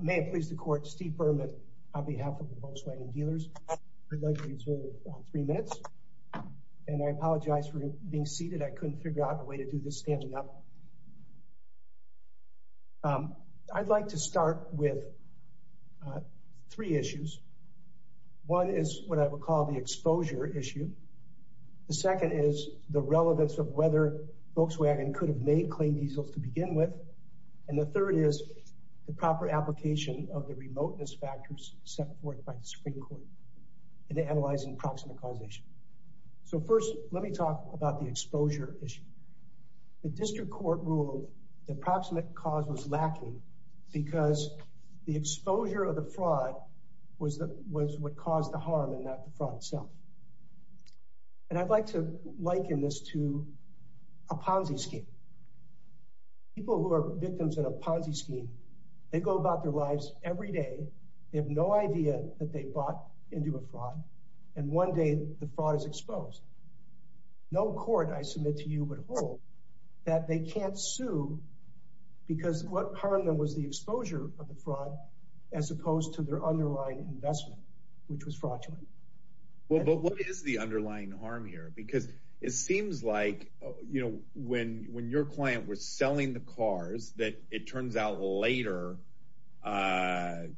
May it please the Court, Steve Berman, on behalf of the Volkswagen dealers, I'd like to resume in three minutes. And I apologize for being seated, I couldn't figure out a way to do this standing up. I'd like to start with three issues. One is what I would call the exposure issue. The second is the relevance of whether Volkswagen could have made clean diesels to begin with. And the third is the proper application of the remoteness factors set forth by the Supreme Court in analyzing proximate causation. So first, let me talk about the exposure issue. The District Court ruled that proximate cause was lacking because the exposure of the fraud was what caused the harm and not the fraud itself. And I'd like to liken this to a Ponzi scheme. People who are victims in a Ponzi scheme, they go about their lives every day, they have no idea that they bought into a fraud, and one day the fraud is exposed. No court, I submit to you, would hold that they can't sue because what harmed them was the exposure of the fraud as opposed to their underlying investment, which was fraudulent. Well, but what is the underlying harm here? Because it seems like when your client was selling the cars that it turns out later, I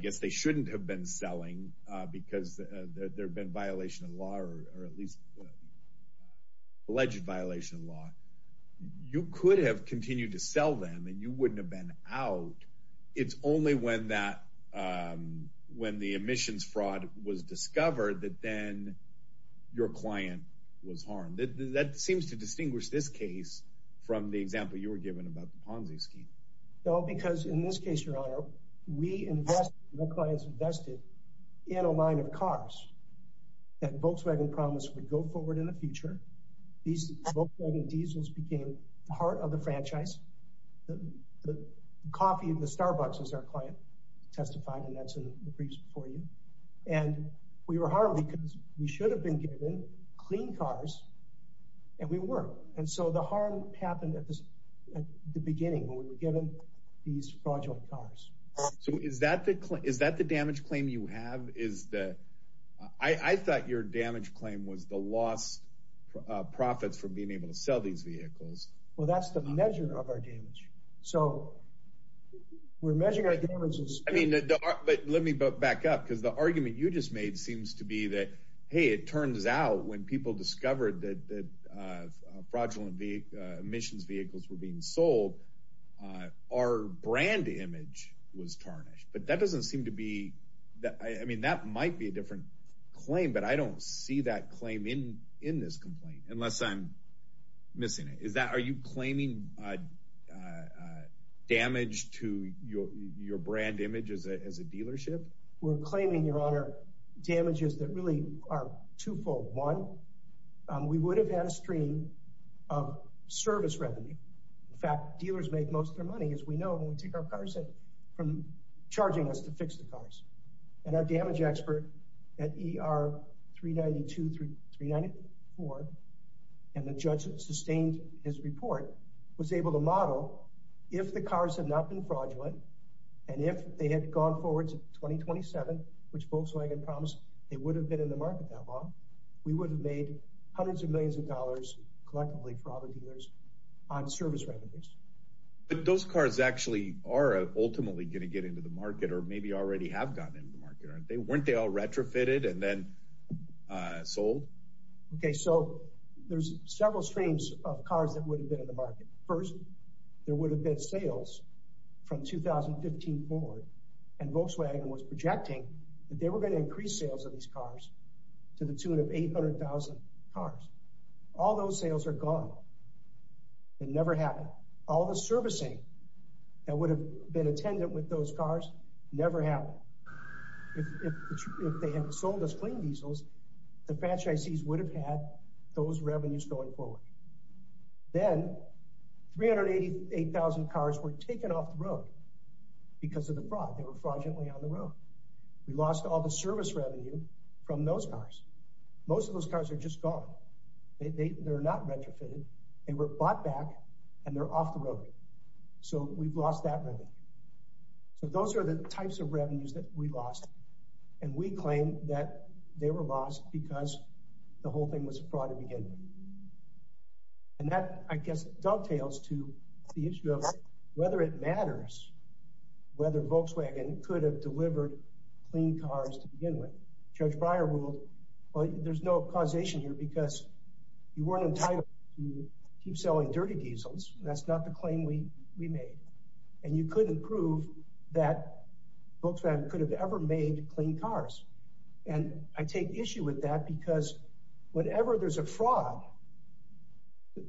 guess they shouldn't have been selling because there had been a violation of the law or at least alleged violation of the law. You could have continued to sell them and you wouldn't have been out. It's only when the emissions fraud was discovered that then your client was harmed. That seems to distinguish this case from the example you were given about the Ponzi scheme. No, because in this case, Your Honor, we invest, your clients invested in a line of cars that Volkswagen promised would go forward in the future. These Volkswagen diesels became the heart of the franchise. The coffee at the Starbucks is our client testified, and that's in the briefs before you. And we were harmed because we should have been given clean cars and we weren't. And so the harm happened at the beginning when we were given these fraudulent cars. So is that the damage claim you have? I thought your damage claim was the lost profits from being able to sell these vehicles. Well, that's the measure of our damage. So we're measuring our damages. But let me back up because the argument you just made seems to be that, hey, it turns out when people discovered that fraudulent emissions vehicles were being sold, our brand image was tarnished. But that doesn't seem to be that. I mean, that might be a different claim, but I don't see that claim in in this complaint unless I'm missing it. Are you claiming damage to your brand image as a dealership? We're claiming, Your Honor, damages that really are twofold. One, we would have had a stream of service revenue. In fact, dealers make most of their money, as we know, when we take our cars from charging us to fix the cars. And our damage expert at ER 392-394, and the judge that sustained his report, was able to model if the cars had not been fraudulent and if they had gone forward to 2027, which Volkswagen promised they would have been in the market that long, we would have made hundreds of millions of dollars collectively for all the dealers on service revenues. But those cars actually are ultimately going to get into the market or maybe already have gotten into the market, aren't they? Weren't they all retrofitted and then sold? Okay, so there's several streams of cars that would have been in the market. First, there would have been sales from 2015 forward. And Volkswagen was projecting that they were going to increase sales of these cars to the tune of 800,000 cars. All those sales are gone. It never happened. All the servicing that would have been attendant with those cars never happened. If they had sold us clean diesels, the franchisees would have had those revenues going forward. Then, 388,000 cars were taken off the road because of the fraud. They were fraudulently on the road. We lost all the service revenue from those cars. Most of those cars are just gone. They're not retrofitted. They were bought back, and they're off the road. So we've lost that revenue. So those are the types of revenues that we lost. And we claim that they were lost because the whole thing was a fraud to begin with. And that, I guess, dovetails to the issue of whether it matters whether Volkswagen could have delivered clean cars to begin with. Judge Breyer ruled, well, there's no causation here because you weren't entitled to keep selling dirty diesels. That's not the claim we made. And you couldn't prove that Volkswagen could have ever made clean cars. And I take issue with that because whenever there's a fraud,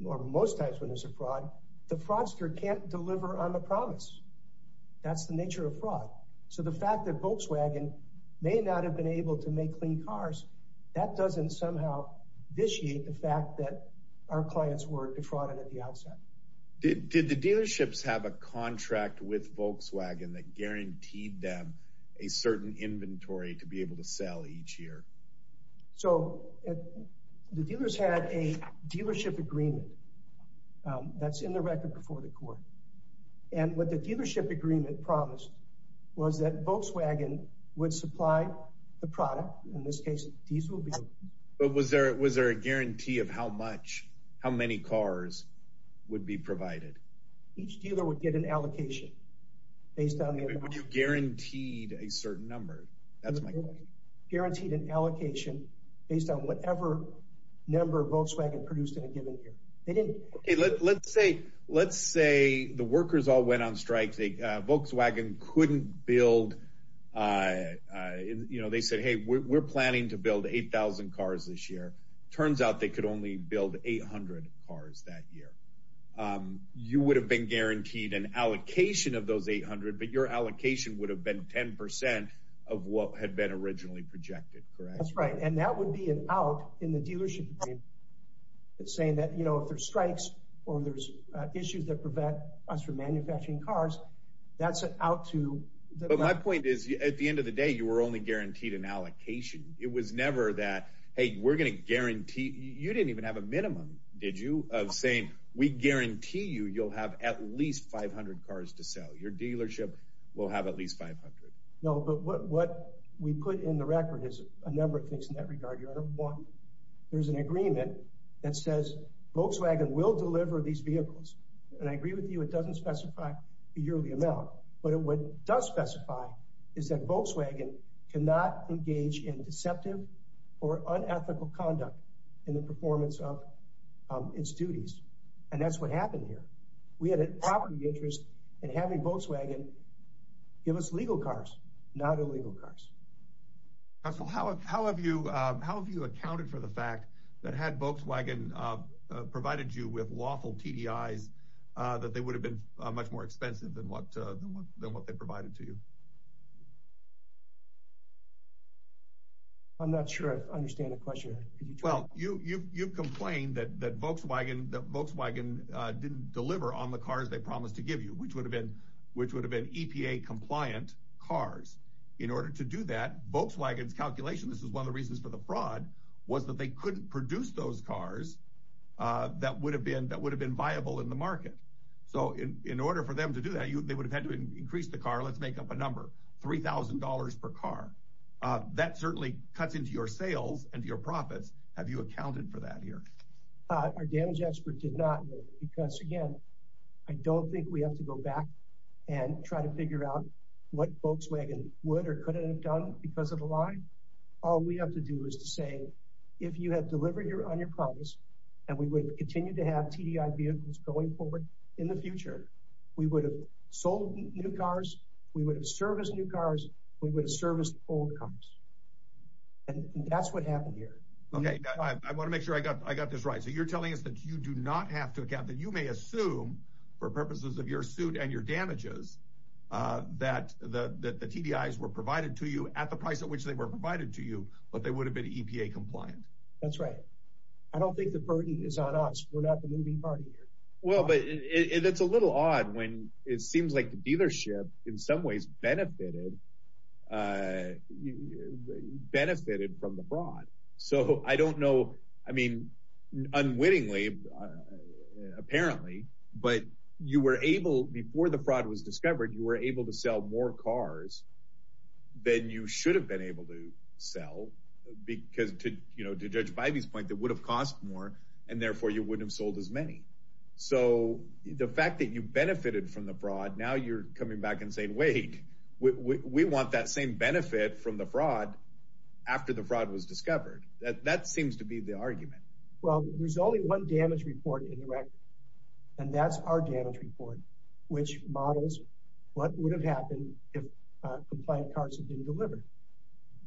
or most times when there's a fraud, the fraudster can't deliver on the promise. That's the nature of fraud. So the fact that Volkswagen may not have been able to make clean cars, that doesn't somehow vitiate the fact that our clients were defrauded at the outset. Did the dealerships have a contract with Volkswagen that guaranteed them a certain inventory to be able to sell each year? So the dealers had a dealership agreement that's in the record before the court. And what the dealership agreement promised was that Volkswagen would supply the product. In this case, diesel vehicles. But was there a guarantee of how much, how many cars would be provided? Each dealer would get an allocation based on the amount. But you guaranteed a certain number. That's my question. Guaranteed an allocation based on whatever number Volkswagen produced in a given year. Let's say the workers all went on strike. Volkswagen couldn't build, you know, they said, hey, we're planning to build 8,000 cars this year. Turns out they could only build 800 cars that year. You would have been guaranteed an allocation of those 800, but your allocation would have been 10% of what had been originally projected, correct? That's right. And that would be an out in the dealership agreement. It's saying that, you know, if there's strikes or there's issues that prevent us from manufacturing cars, that's an out to. But my point is, at the end of the day, you were only guaranteed an allocation. It was never that, hey, we're going to guarantee. You didn't even have a minimum, did you, of saying we guarantee you you'll have at least 500 cars to sell. Your dealership will have at least 500. No, but what we put in the record is a number of things in that regard. Number one, there's an agreement that says Volkswagen will deliver these vehicles. And I agree with you. It doesn't specify a yearly amount. But what it does specify is that Volkswagen cannot engage in deceptive or unethical conduct in the performance of its duties. And that's what happened here. We had a property interest in having Volkswagen give us legal cars, not illegal cars. So how have you how have you accounted for the fact that had Volkswagen provided you with lawful TDIs, that they would have been much more expensive than what than what they provided to you? I'm not sure I understand the question. Well, you you've you've complained that that Volkswagen Volkswagen didn't deliver on the cars they promised to give you, which would have been which would have been EPA compliant cars in order to do that. Volkswagen's calculation. This is one of the reasons for the fraud was that they couldn't produce those cars that would have been that would have been viable in the market. So in order for them to do that, they would have had to increase the car. Let's make up a number. Three thousand dollars per car. That certainly cuts into your sales and your profits. Have you accounted for that here? Our damage expert did not, because, again, I don't think we have to go back and try to figure out what Volkswagen would or could have done because of the line. All we have to do is to say, if you had delivered on your promise and we would continue to have TDI vehicles going forward in the future, we would have sold new cars, we would have serviced new cars, we would have serviced old cars. And that's what happened here. OK, I want to make sure I got I got this right. So you're telling us that you do not have to account that you may assume for purposes of your suit and your damages that the TDIs were provided to you at the price at which they were provided to you. But they would have been EPA compliant. That's right. I don't think the burden is on us. Well, but it's a little odd when it seems like the dealership in some ways benefited benefited from the fraud. So I don't know. I mean, unwittingly, apparently. But you were able before the fraud was discovered, you were able to sell more cars than you should have been able to sell. Because, you know, to judge by these points, it would have cost more and therefore you wouldn't have sold as many. So the fact that you benefited from the fraud, now you're coming back and saying, wait, we want that same benefit from the fraud after the fraud was discovered. That seems to be the argument. Well, there's only one damage report in the record. And that's our damage report, which models what would have happened if compliant cars had been delivered.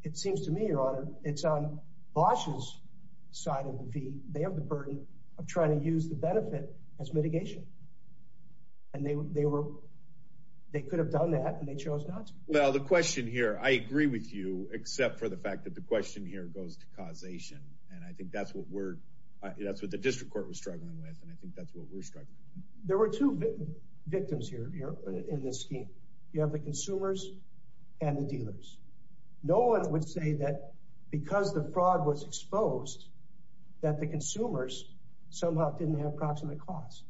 It seems to me, your honor, it's on Bosch's side of the V. They have the burden of trying to use the benefit as mitigation. And they were they were they could have done that and they chose not to. Well, the question here, I agree with you, except for the fact that the question here goes to causation. And I think that's what we're that's what the district court was struggling with. And I think that's what we're struggling with. There were two victims here in this scheme. You have the consumers and the dealers. No one would say that because the fraud was exposed, that the consumers somehow didn't have approximate costs.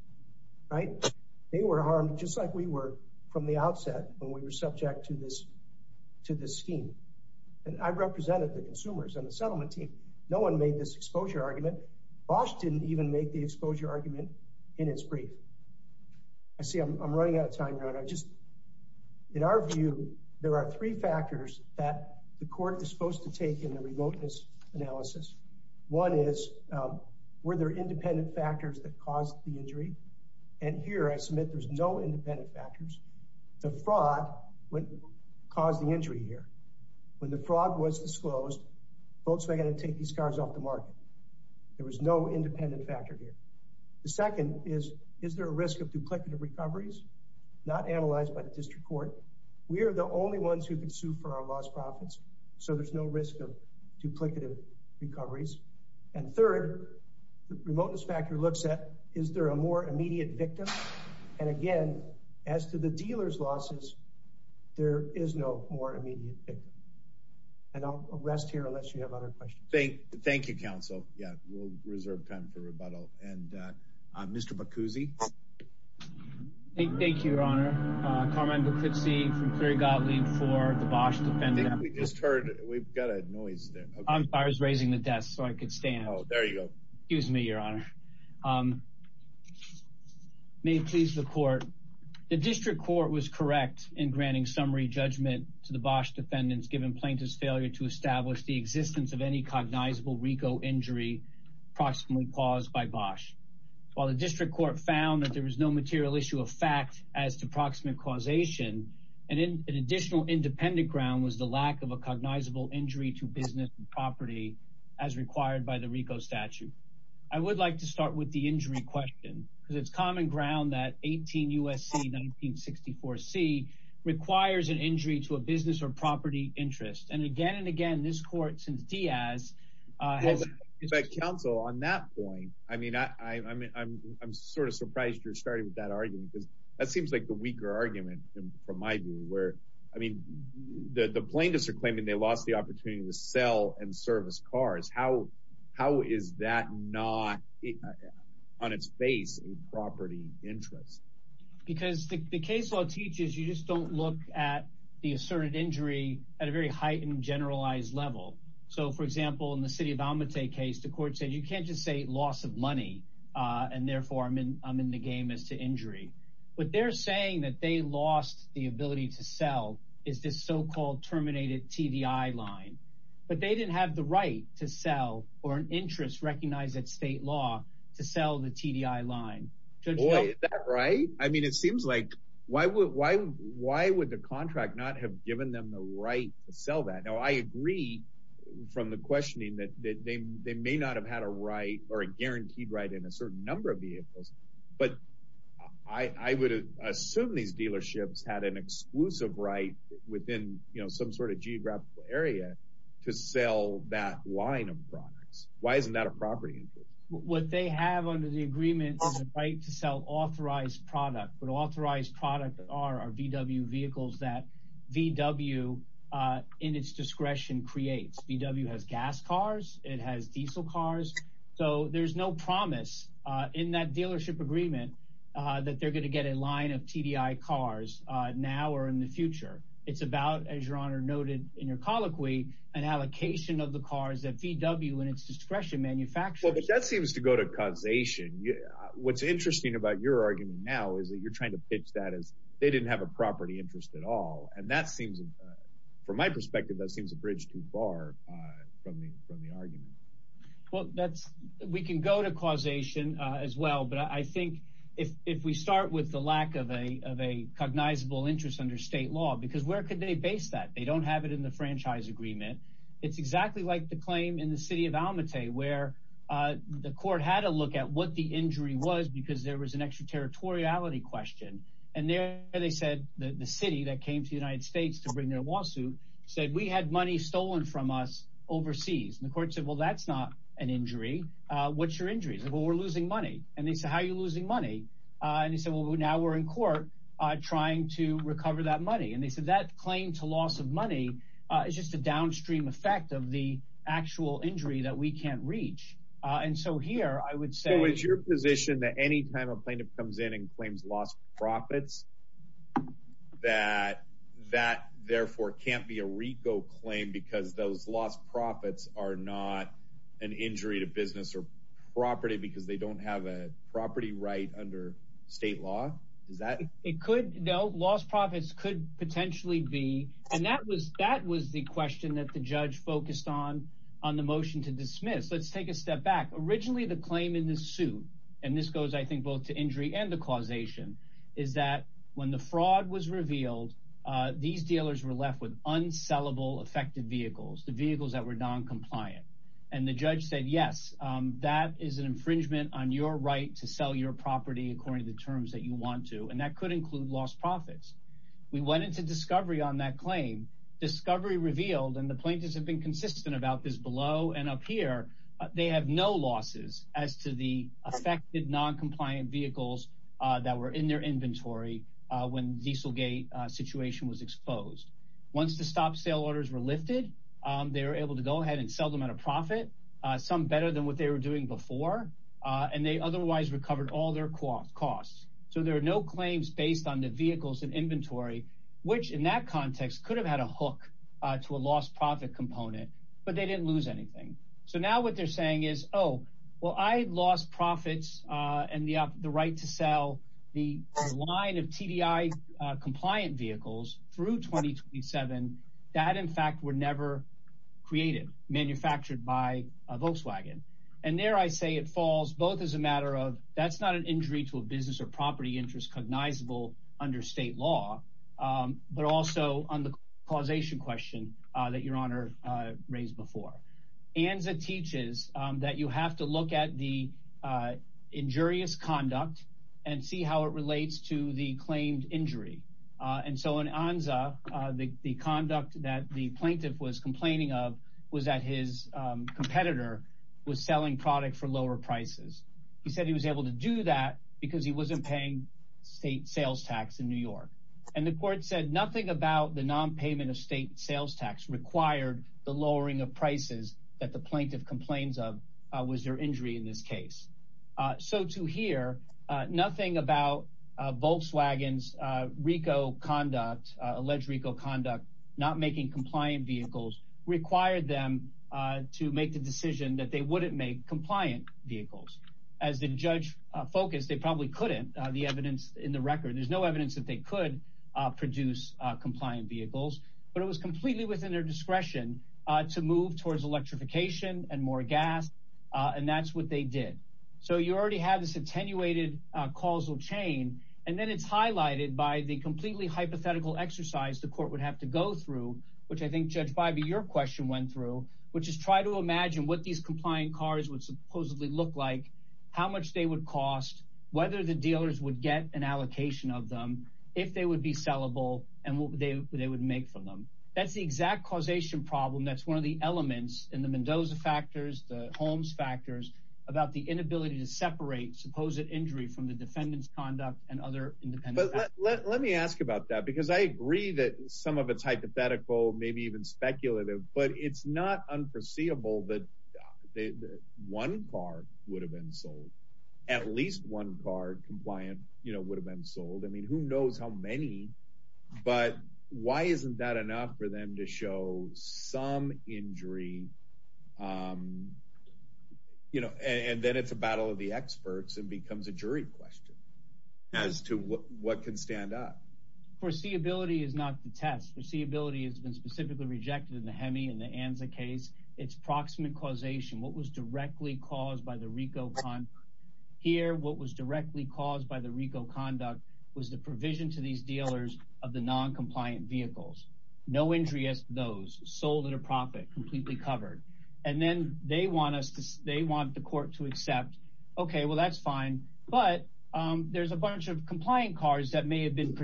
Right. They were harmed just like we were from the outset when we were subject to this to this scheme. And I represented the consumers and the settlement team. No one made this exposure argument. But Bosch didn't even make the exposure argument in its brief. I see I'm running out of time. I just in our view, there are three factors that the court is supposed to take in the remoteness analysis. One is, were there independent factors that caused the injury? And here I submit there's no independent factors. The fraud caused the injury here. When the fraud was disclosed, Volkswagen had to take these cars off the market. There was no independent factor here. The second is, is there a risk of duplicative recoveries not analyzed by the district court? We are the only ones who can sue for our lost profits. So there's no risk of duplicative recoveries. And third, the remoteness factor looks at, is there a more immediate victim? And again, as to the dealers losses, there is no more immediate victim. And I'll rest here unless you have other questions. Thank you, counsel. Yeah, we'll reserve time for rebuttal. And Mr. Bacuzzi. Thank you, Your Honor. Carmine Bacuzzi from Cleary Gottlieb for the Bosch defendant. I think we just heard, we've got a noise there. I was raising the desk so I could stand. Oh, there you go. Excuse me, Your Honor. May it please the court. The district court was correct in granting summary judgment to the Bosch defendants given plaintiff's failure to establish the existence of any cognizable RICO injury approximately caused by Bosch. While the district court found that there was no material issue of fact as to proximate causation, an additional independent ground was the lack of a cognizable injury to business and property as required by the RICO statute. I would like to start with the injury question, because it's common ground that 18 U.S.C. 1964 C requires an injury to a business or property interest. And again and again, this court, since Diaz. Well, counsel, on that point, I mean, I'm sort of surprised you're starting with that argument, because that seems like the weaker argument from my view where, I mean, the plaintiffs are claiming they lost the opportunity to sell and service cars. How how is that not on its face a property interest? Because the case law teaches you just don't look at the asserted injury at a very heightened, generalized level. So, for example, in the city of Almaty case, the court said you can't just say loss of money and therefore I'm in I'm in the game as to injury. But they're saying that they lost the ability to sell is this so-called terminated TDI line. But they didn't have the right to sell or an interest recognized that state law to sell the TDI line. Right. I mean, it seems like why would why why would the contract not have given them the right to sell that? Now, I agree from the questioning that they may not have had a right or a guaranteed right in a certain number of vehicles. But I would assume these dealerships had an exclusive right within some sort of geographic area to sell that line of products. Why isn't that a property? What they have under the agreement is a right to sell authorized product. But authorized product are VW vehicles that VW in its discretion creates. VW has gas cars. It has diesel cars. So there's no promise in that dealership agreement that they're going to get a line of TDI cars now or in the future. It's about, as your honor noted in your colloquy, an allocation of the cars that VW and its discretion manufacture. But that seems to go to causation. What's interesting about your argument now is that you're trying to pitch that as they didn't have a property interest at all. And that seems from my perspective, that seems a bridge too far from the from the argument. Well, that's we can go to causation as well. But I think if we start with the lack of a of a cognizable interest under state law, because where could they base that? They don't have it in the franchise agreement. It's exactly like the claim in the city of Almaty, where the court had to look at what the injury was because there was an extraterritoriality question. And there they said that the city that came to the United States to bring their lawsuit said we had money stolen from us overseas. And the court said, well, that's not an injury. What's your injuries? Well, we're losing money. And they say, how are you losing money? And he said, well, now we're in court trying to recover that money. And they said that claim to loss of money is just a downstream effect of the actual injury that we can't reach. And so here I would say it's your position that any time a plaintiff comes in and claims lost profits, that that therefore can't be a RICO claim because those lost profits are not an injury to business or property because they don't have a property right under state law. Is that it could know lost profits could potentially be. And that was that was the question that the judge focused on on the motion to dismiss. Let's take a step back. Originally, the claim in the suit. And this goes, I think, both to injury and the causation is that when the fraud was revealed, these dealers were left with unsellable affected vehicles, the vehicles that were noncompliant. And the judge said, yes, that is an infringement on your right to sell your property, according to the terms that you want to. And that could include lost profits. We went into discovery on that claim discovery revealed and the plaintiffs have been consistent about this below and up here. They have no losses as to the affected noncompliant vehicles that were in their inventory when diesel gate situation was exposed. Once the stop sale orders were lifted, they were able to go ahead and sell them at a profit. Some better than what they were doing before. And they otherwise recovered all their costs. So there are no claims based on the vehicles and inventory, which in that context could have had a hook to a lost profit component. But they didn't lose anything. So now what they're saying is, oh, well, I lost profits and the right to sell the line of TDI compliant vehicles through twenty seven. That, in fact, were never created, manufactured by Volkswagen. And there I say it falls both as a matter of that's not an injury to a business or property interest cognizable under state law, but also on the causation question that your honor raised before. And that teaches that you have to look at the injurious conduct and see how it relates to the claimed injury. And so on Anza, the conduct that the plaintiff was complaining of was that his competitor was selling product for lower prices. He said he was able to do that because he wasn't paying state sales tax in New York. And the court said nothing about the nonpayment of state sales tax required the lowering of prices that the plaintiff complains of was their injury in this case. So to hear nothing about Volkswagen's RICO conduct, alleged RICO conduct, not making compliant vehicles required them to make the decision that they wouldn't make compliant vehicles. As the judge focused, they probably couldn't. The evidence in the record, there's no evidence that they could produce compliant vehicles. But it was completely within their discretion to move towards electrification and more gas. And that's what they did. So you already have this attenuated causal chain. And then it's highlighted by the completely hypothetical exercise. The court would have to go through, which I think judge by your question went through, which is try to imagine what these compliant cars would supposedly look like. How much they would cost, whether the dealers would get an allocation of them, if they would be sellable and what they would make from them. That's the exact causation problem. That's one of the elements in the Mendoza factors, the Holmes factors about the inability to separate supposed injury from the defendant's conduct and other independent. But let me ask about that, because I agree that some of it's hypothetical, maybe even speculative, but it's not unforeseeable that one car would have been sold. At least one car compliant, you know, would have been sold. I mean, who knows how many. But why isn't that enough for them to show some injury, you know, and then it's a battle of the experts and becomes a jury question as to what can stand up. Foreseeability is not the test. Foreseeability has been specifically rejected in the Hemi and the Anza case. It's proximate causation. What was directly caused by the RICO conduct here? What was directly caused by the RICO conduct was the provision to these dealers of the noncompliant vehicles. No injury as those sold at a profit completely covered. And then they want us to they want the court to accept. OK, well, that's fine. But there's a bunch of compliant cars that may have been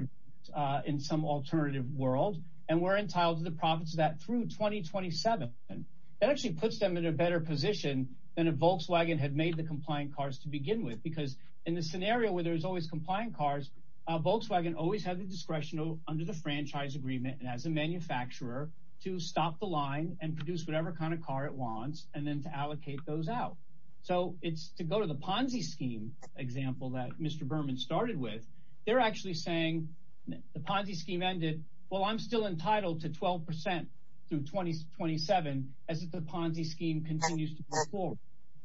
in some alternative world. And we're entitled to the profits of that through 2027. And that actually puts them in a better position than a Volkswagen had made the compliant cars to begin with. Because in the scenario where there's always compliant cars, Volkswagen always had the discretion under the franchise agreement. And as a manufacturer to stop the line and produce whatever kind of car it wants and then to allocate those out. So it's to go to the Ponzi scheme example that Mr. Berman started with. They're actually saying the Ponzi scheme ended. Well, I'm still entitled to 12 percent through 2027 as the Ponzi scheme continues to go forward.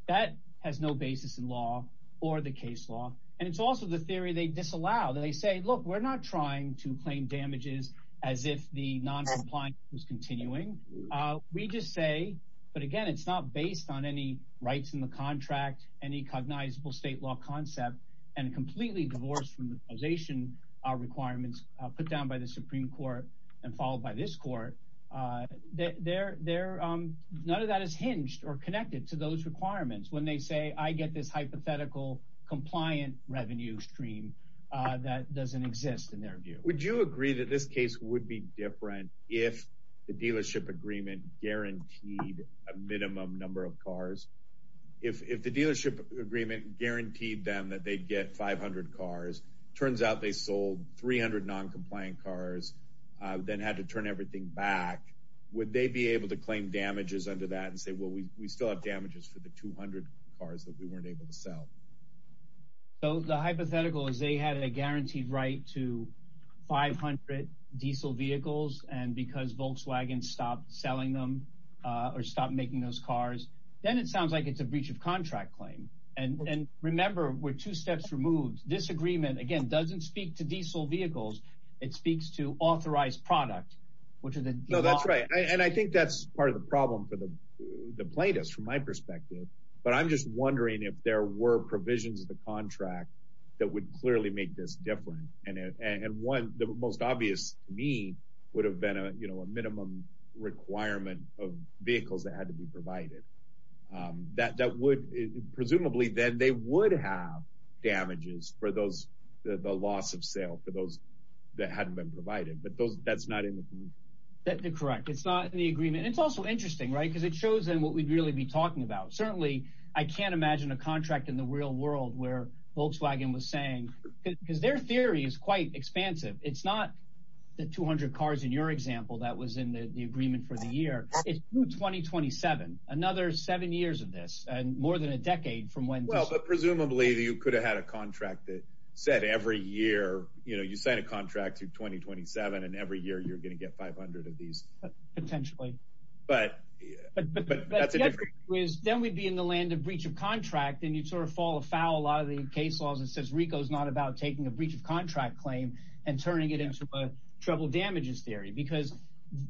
That has no basis in law or the case law. And it's also the theory they disallow. They say, look, we're not trying to claim damages as if the noncompliance was continuing. We just say. But again, it's not based on any rights in the contract. Any cognizable state law concept and completely divorced from the position. Our requirements put down by the Supreme Court and followed by this court. They're there. None of that is hinged or connected to those requirements. When they say I get this hypothetical compliant revenue stream that doesn't exist in their view. Would you agree that this case would be different if the dealership agreement guaranteed a minimum number of cars? If the dealership agreement guaranteed them that they'd get 500 cars. Turns out they sold 300 noncompliant cars, then had to turn everything back. Would they be able to claim damages under that and say, well, we still have damages for the 200 cars that we weren't able to sell? So the hypothetical is they had a guaranteed right to 500 diesel vehicles. And because Volkswagen stopped selling them or stop making those cars, then it sounds like it's a breach of contract claim. And remember, we're two steps removed. Disagreement, again, doesn't speak to diesel vehicles. It speaks to authorized product, which is. No, that's right. And I think that's part of the problem for the plaintiffs, from my perspective. But I'm just wondering if there were provisions of the contract that would clearly make this different. And one, the most obvious to me would have been a minimum requirement of vehicles that had to be provided. That would presumably then they would have damages for those, the loss of sale for those that hadn't been provided. But that's not in the agreement. That's correct. It's not in the agreement. And it's also interesting, right, because it shows them what we'd really be talking about. Certainly, I can't imagine a contract in the real world where Volkswagen was saying because their theory is quite expansive. It's not the 200 cars in your example that was in the agreement for the year. It's 2027, another seven years of this and more than a decade from when. Well, but presumably you could have had a contract that said every year, you know, you sign a contract to 2027 and every year you're going to get 500 of these. Potentially. But that's a different. Then we'd be in the land of breach of contract and you'd sort of fall afoul. A lot of the case laws, it says RICO is not about taking a breach of contract claim and turning it into a trouble damages theory because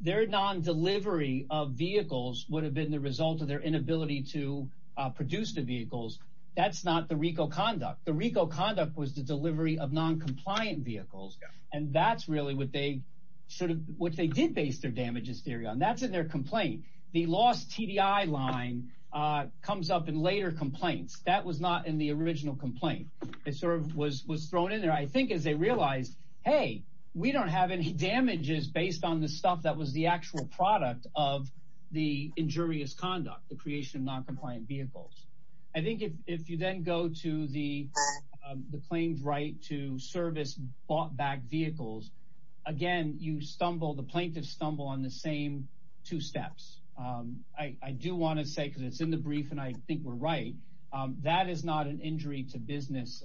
their non delivery of vehicles would have been the result of their inability to produce the vehicles. That's not the RICO conduct. The RICO conduct was the delivery of noncompliant vehicles. And that's really what they sort of what they did base their damages theory on. That's in their complaint. The lost TDI line comes up in later complaints. That was not in the original complaint. It sort of was was thrown in there, I think, as they realized, hey, we don't have any damages based on the stuff that was the actual product of the injurious conduct, the creation of noncompliant vehicles. I think if you then go to the the claims right to service bought back vehicles again, you stumble. The plaintiffs stumble on the same two steps. I do want to say because it's in the brief and I think we're right. That is not an injury to business.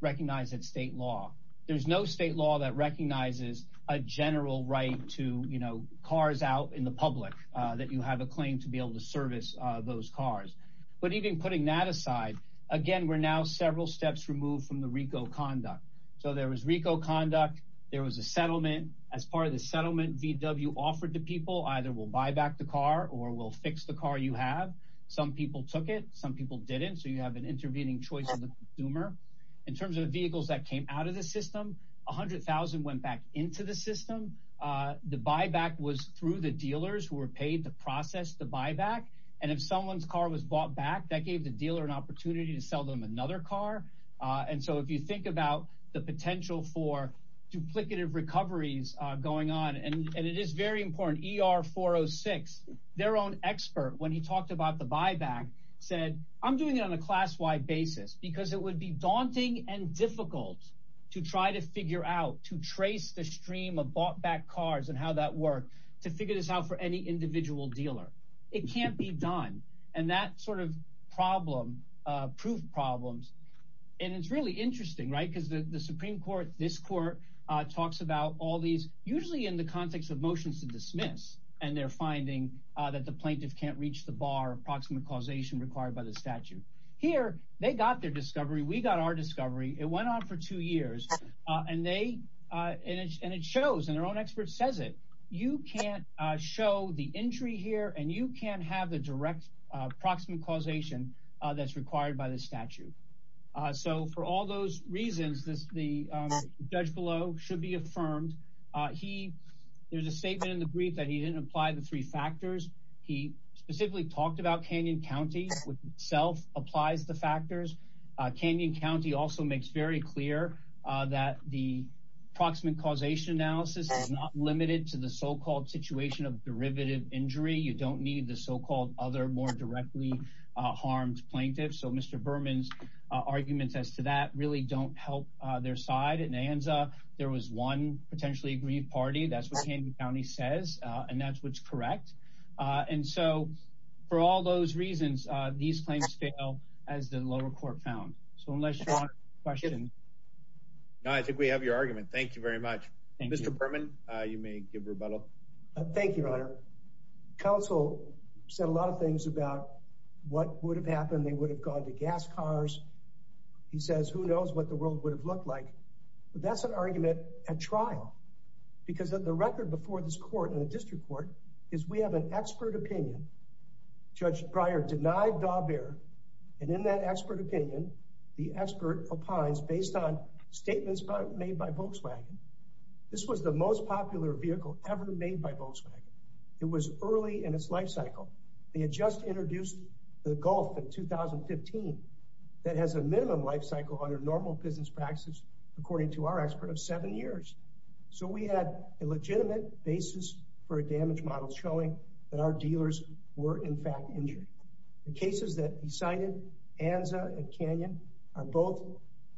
Recognize that state law. There's no state law that recognizes a general right to, you know, cars out in the public that you have a claim to be able to service those cars. But even putting that aside again, we're now several steps removed from the RICO conduct. So there was RICO conduct. There was a settlement as part of the settlement VW offered to people. Either we'll buy back the car or we'll fix the car. You have some people took it. Some people didn't. So you have an intervening choice of the consumer in terms of vehicles that came out of the system. One hundred thousand went back into the system. The buyback was through the dealers who were paid to process the buyback. And if someone's car was bought back, that gave the dealer an opportunity to sell them another car. And so if you think about the potential for duplicative recoveries going on and it is very important. Their own expert, when he talked about the buyback, said, I'm doing it on a class wide basis because it would be daunting and difficult to try to figure out to trace the stream of bought back cars and how that work to figure this out for any individual dealer. It can't be done. And that sort of problem proved problems. And it's really interesting, right, because the Supreme Court, this court talks about all these usually in the context of motions to dismiss. And they're finding that the plaintiff can't reach the bar approximate causation required by the statute here. They got their discovery. We got our discovery. It went on for two years. And they and it shows and their own expert says it. You can't show the entry here and you can't have the direct approximate causation that's required by the statute. So for all those reasons, this the judge below should be affirmed. He there's a statement in the brief that he didn't apply the three factors. He specifically talked about Canyon County, which itself applies the factors. Canyon County also makes very clear that the proximate causation analysis is not limited to the so-called situation of derivative injury. You don't need the so-called other more directly harmed plaintiffs. So Mr. Berman's arguments as to that really don't help their side. There was one potentially aggrieved party. That's what Canyon County says. And that's what's correct. And so for all those reasons, these claims fail as the lower court found. So unless you want to question. I think we have your argument. Thank you very much. Mr. Berman, you may give rebuttal. Thank you, Your Honor. Counsel said a lot of things about what would have happened. They would have gone to gas cars. He says, who knows what the world would have looked like. That's an argument at trial because of the record before this court in the district court is we have an expert opinion. Judge Breyer denied Daubert. And in that expert opinion, the expert opines based on statements made by Volkswagen. This was the most popular vehicle ever made by Volkswagen. It was early in its lifecycle. They had just introduced the Gulf in 2015 that has a minimum lifecycle under normal business practices, according to our expert of seven years. So we had a legitimate basis for a damage model showing that our dealers were, in fact, injured. The cases that he cited, Anza and Canyon, are both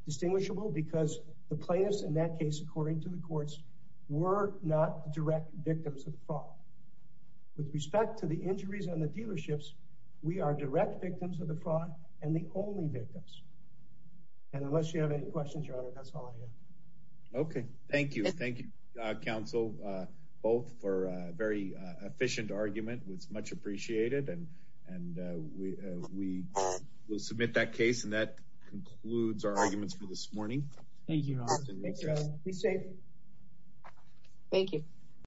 distinguishable because the plaintiffs in that case, according to the courts, were not direct victims of fraud. With respect to the injuries on the dealerships, we are direct victims of the fraud and the only victims. And unless you have any questions, Your Honor, that's all I have. Okay. Thank you. Thank you, Counsel, both for a very efficient argument. It was much appreciated. And we will submit that case and that concludes our arguments for this morning. Thank you, Your Honor. Thanks, Your Honor. Be safe. Thank you.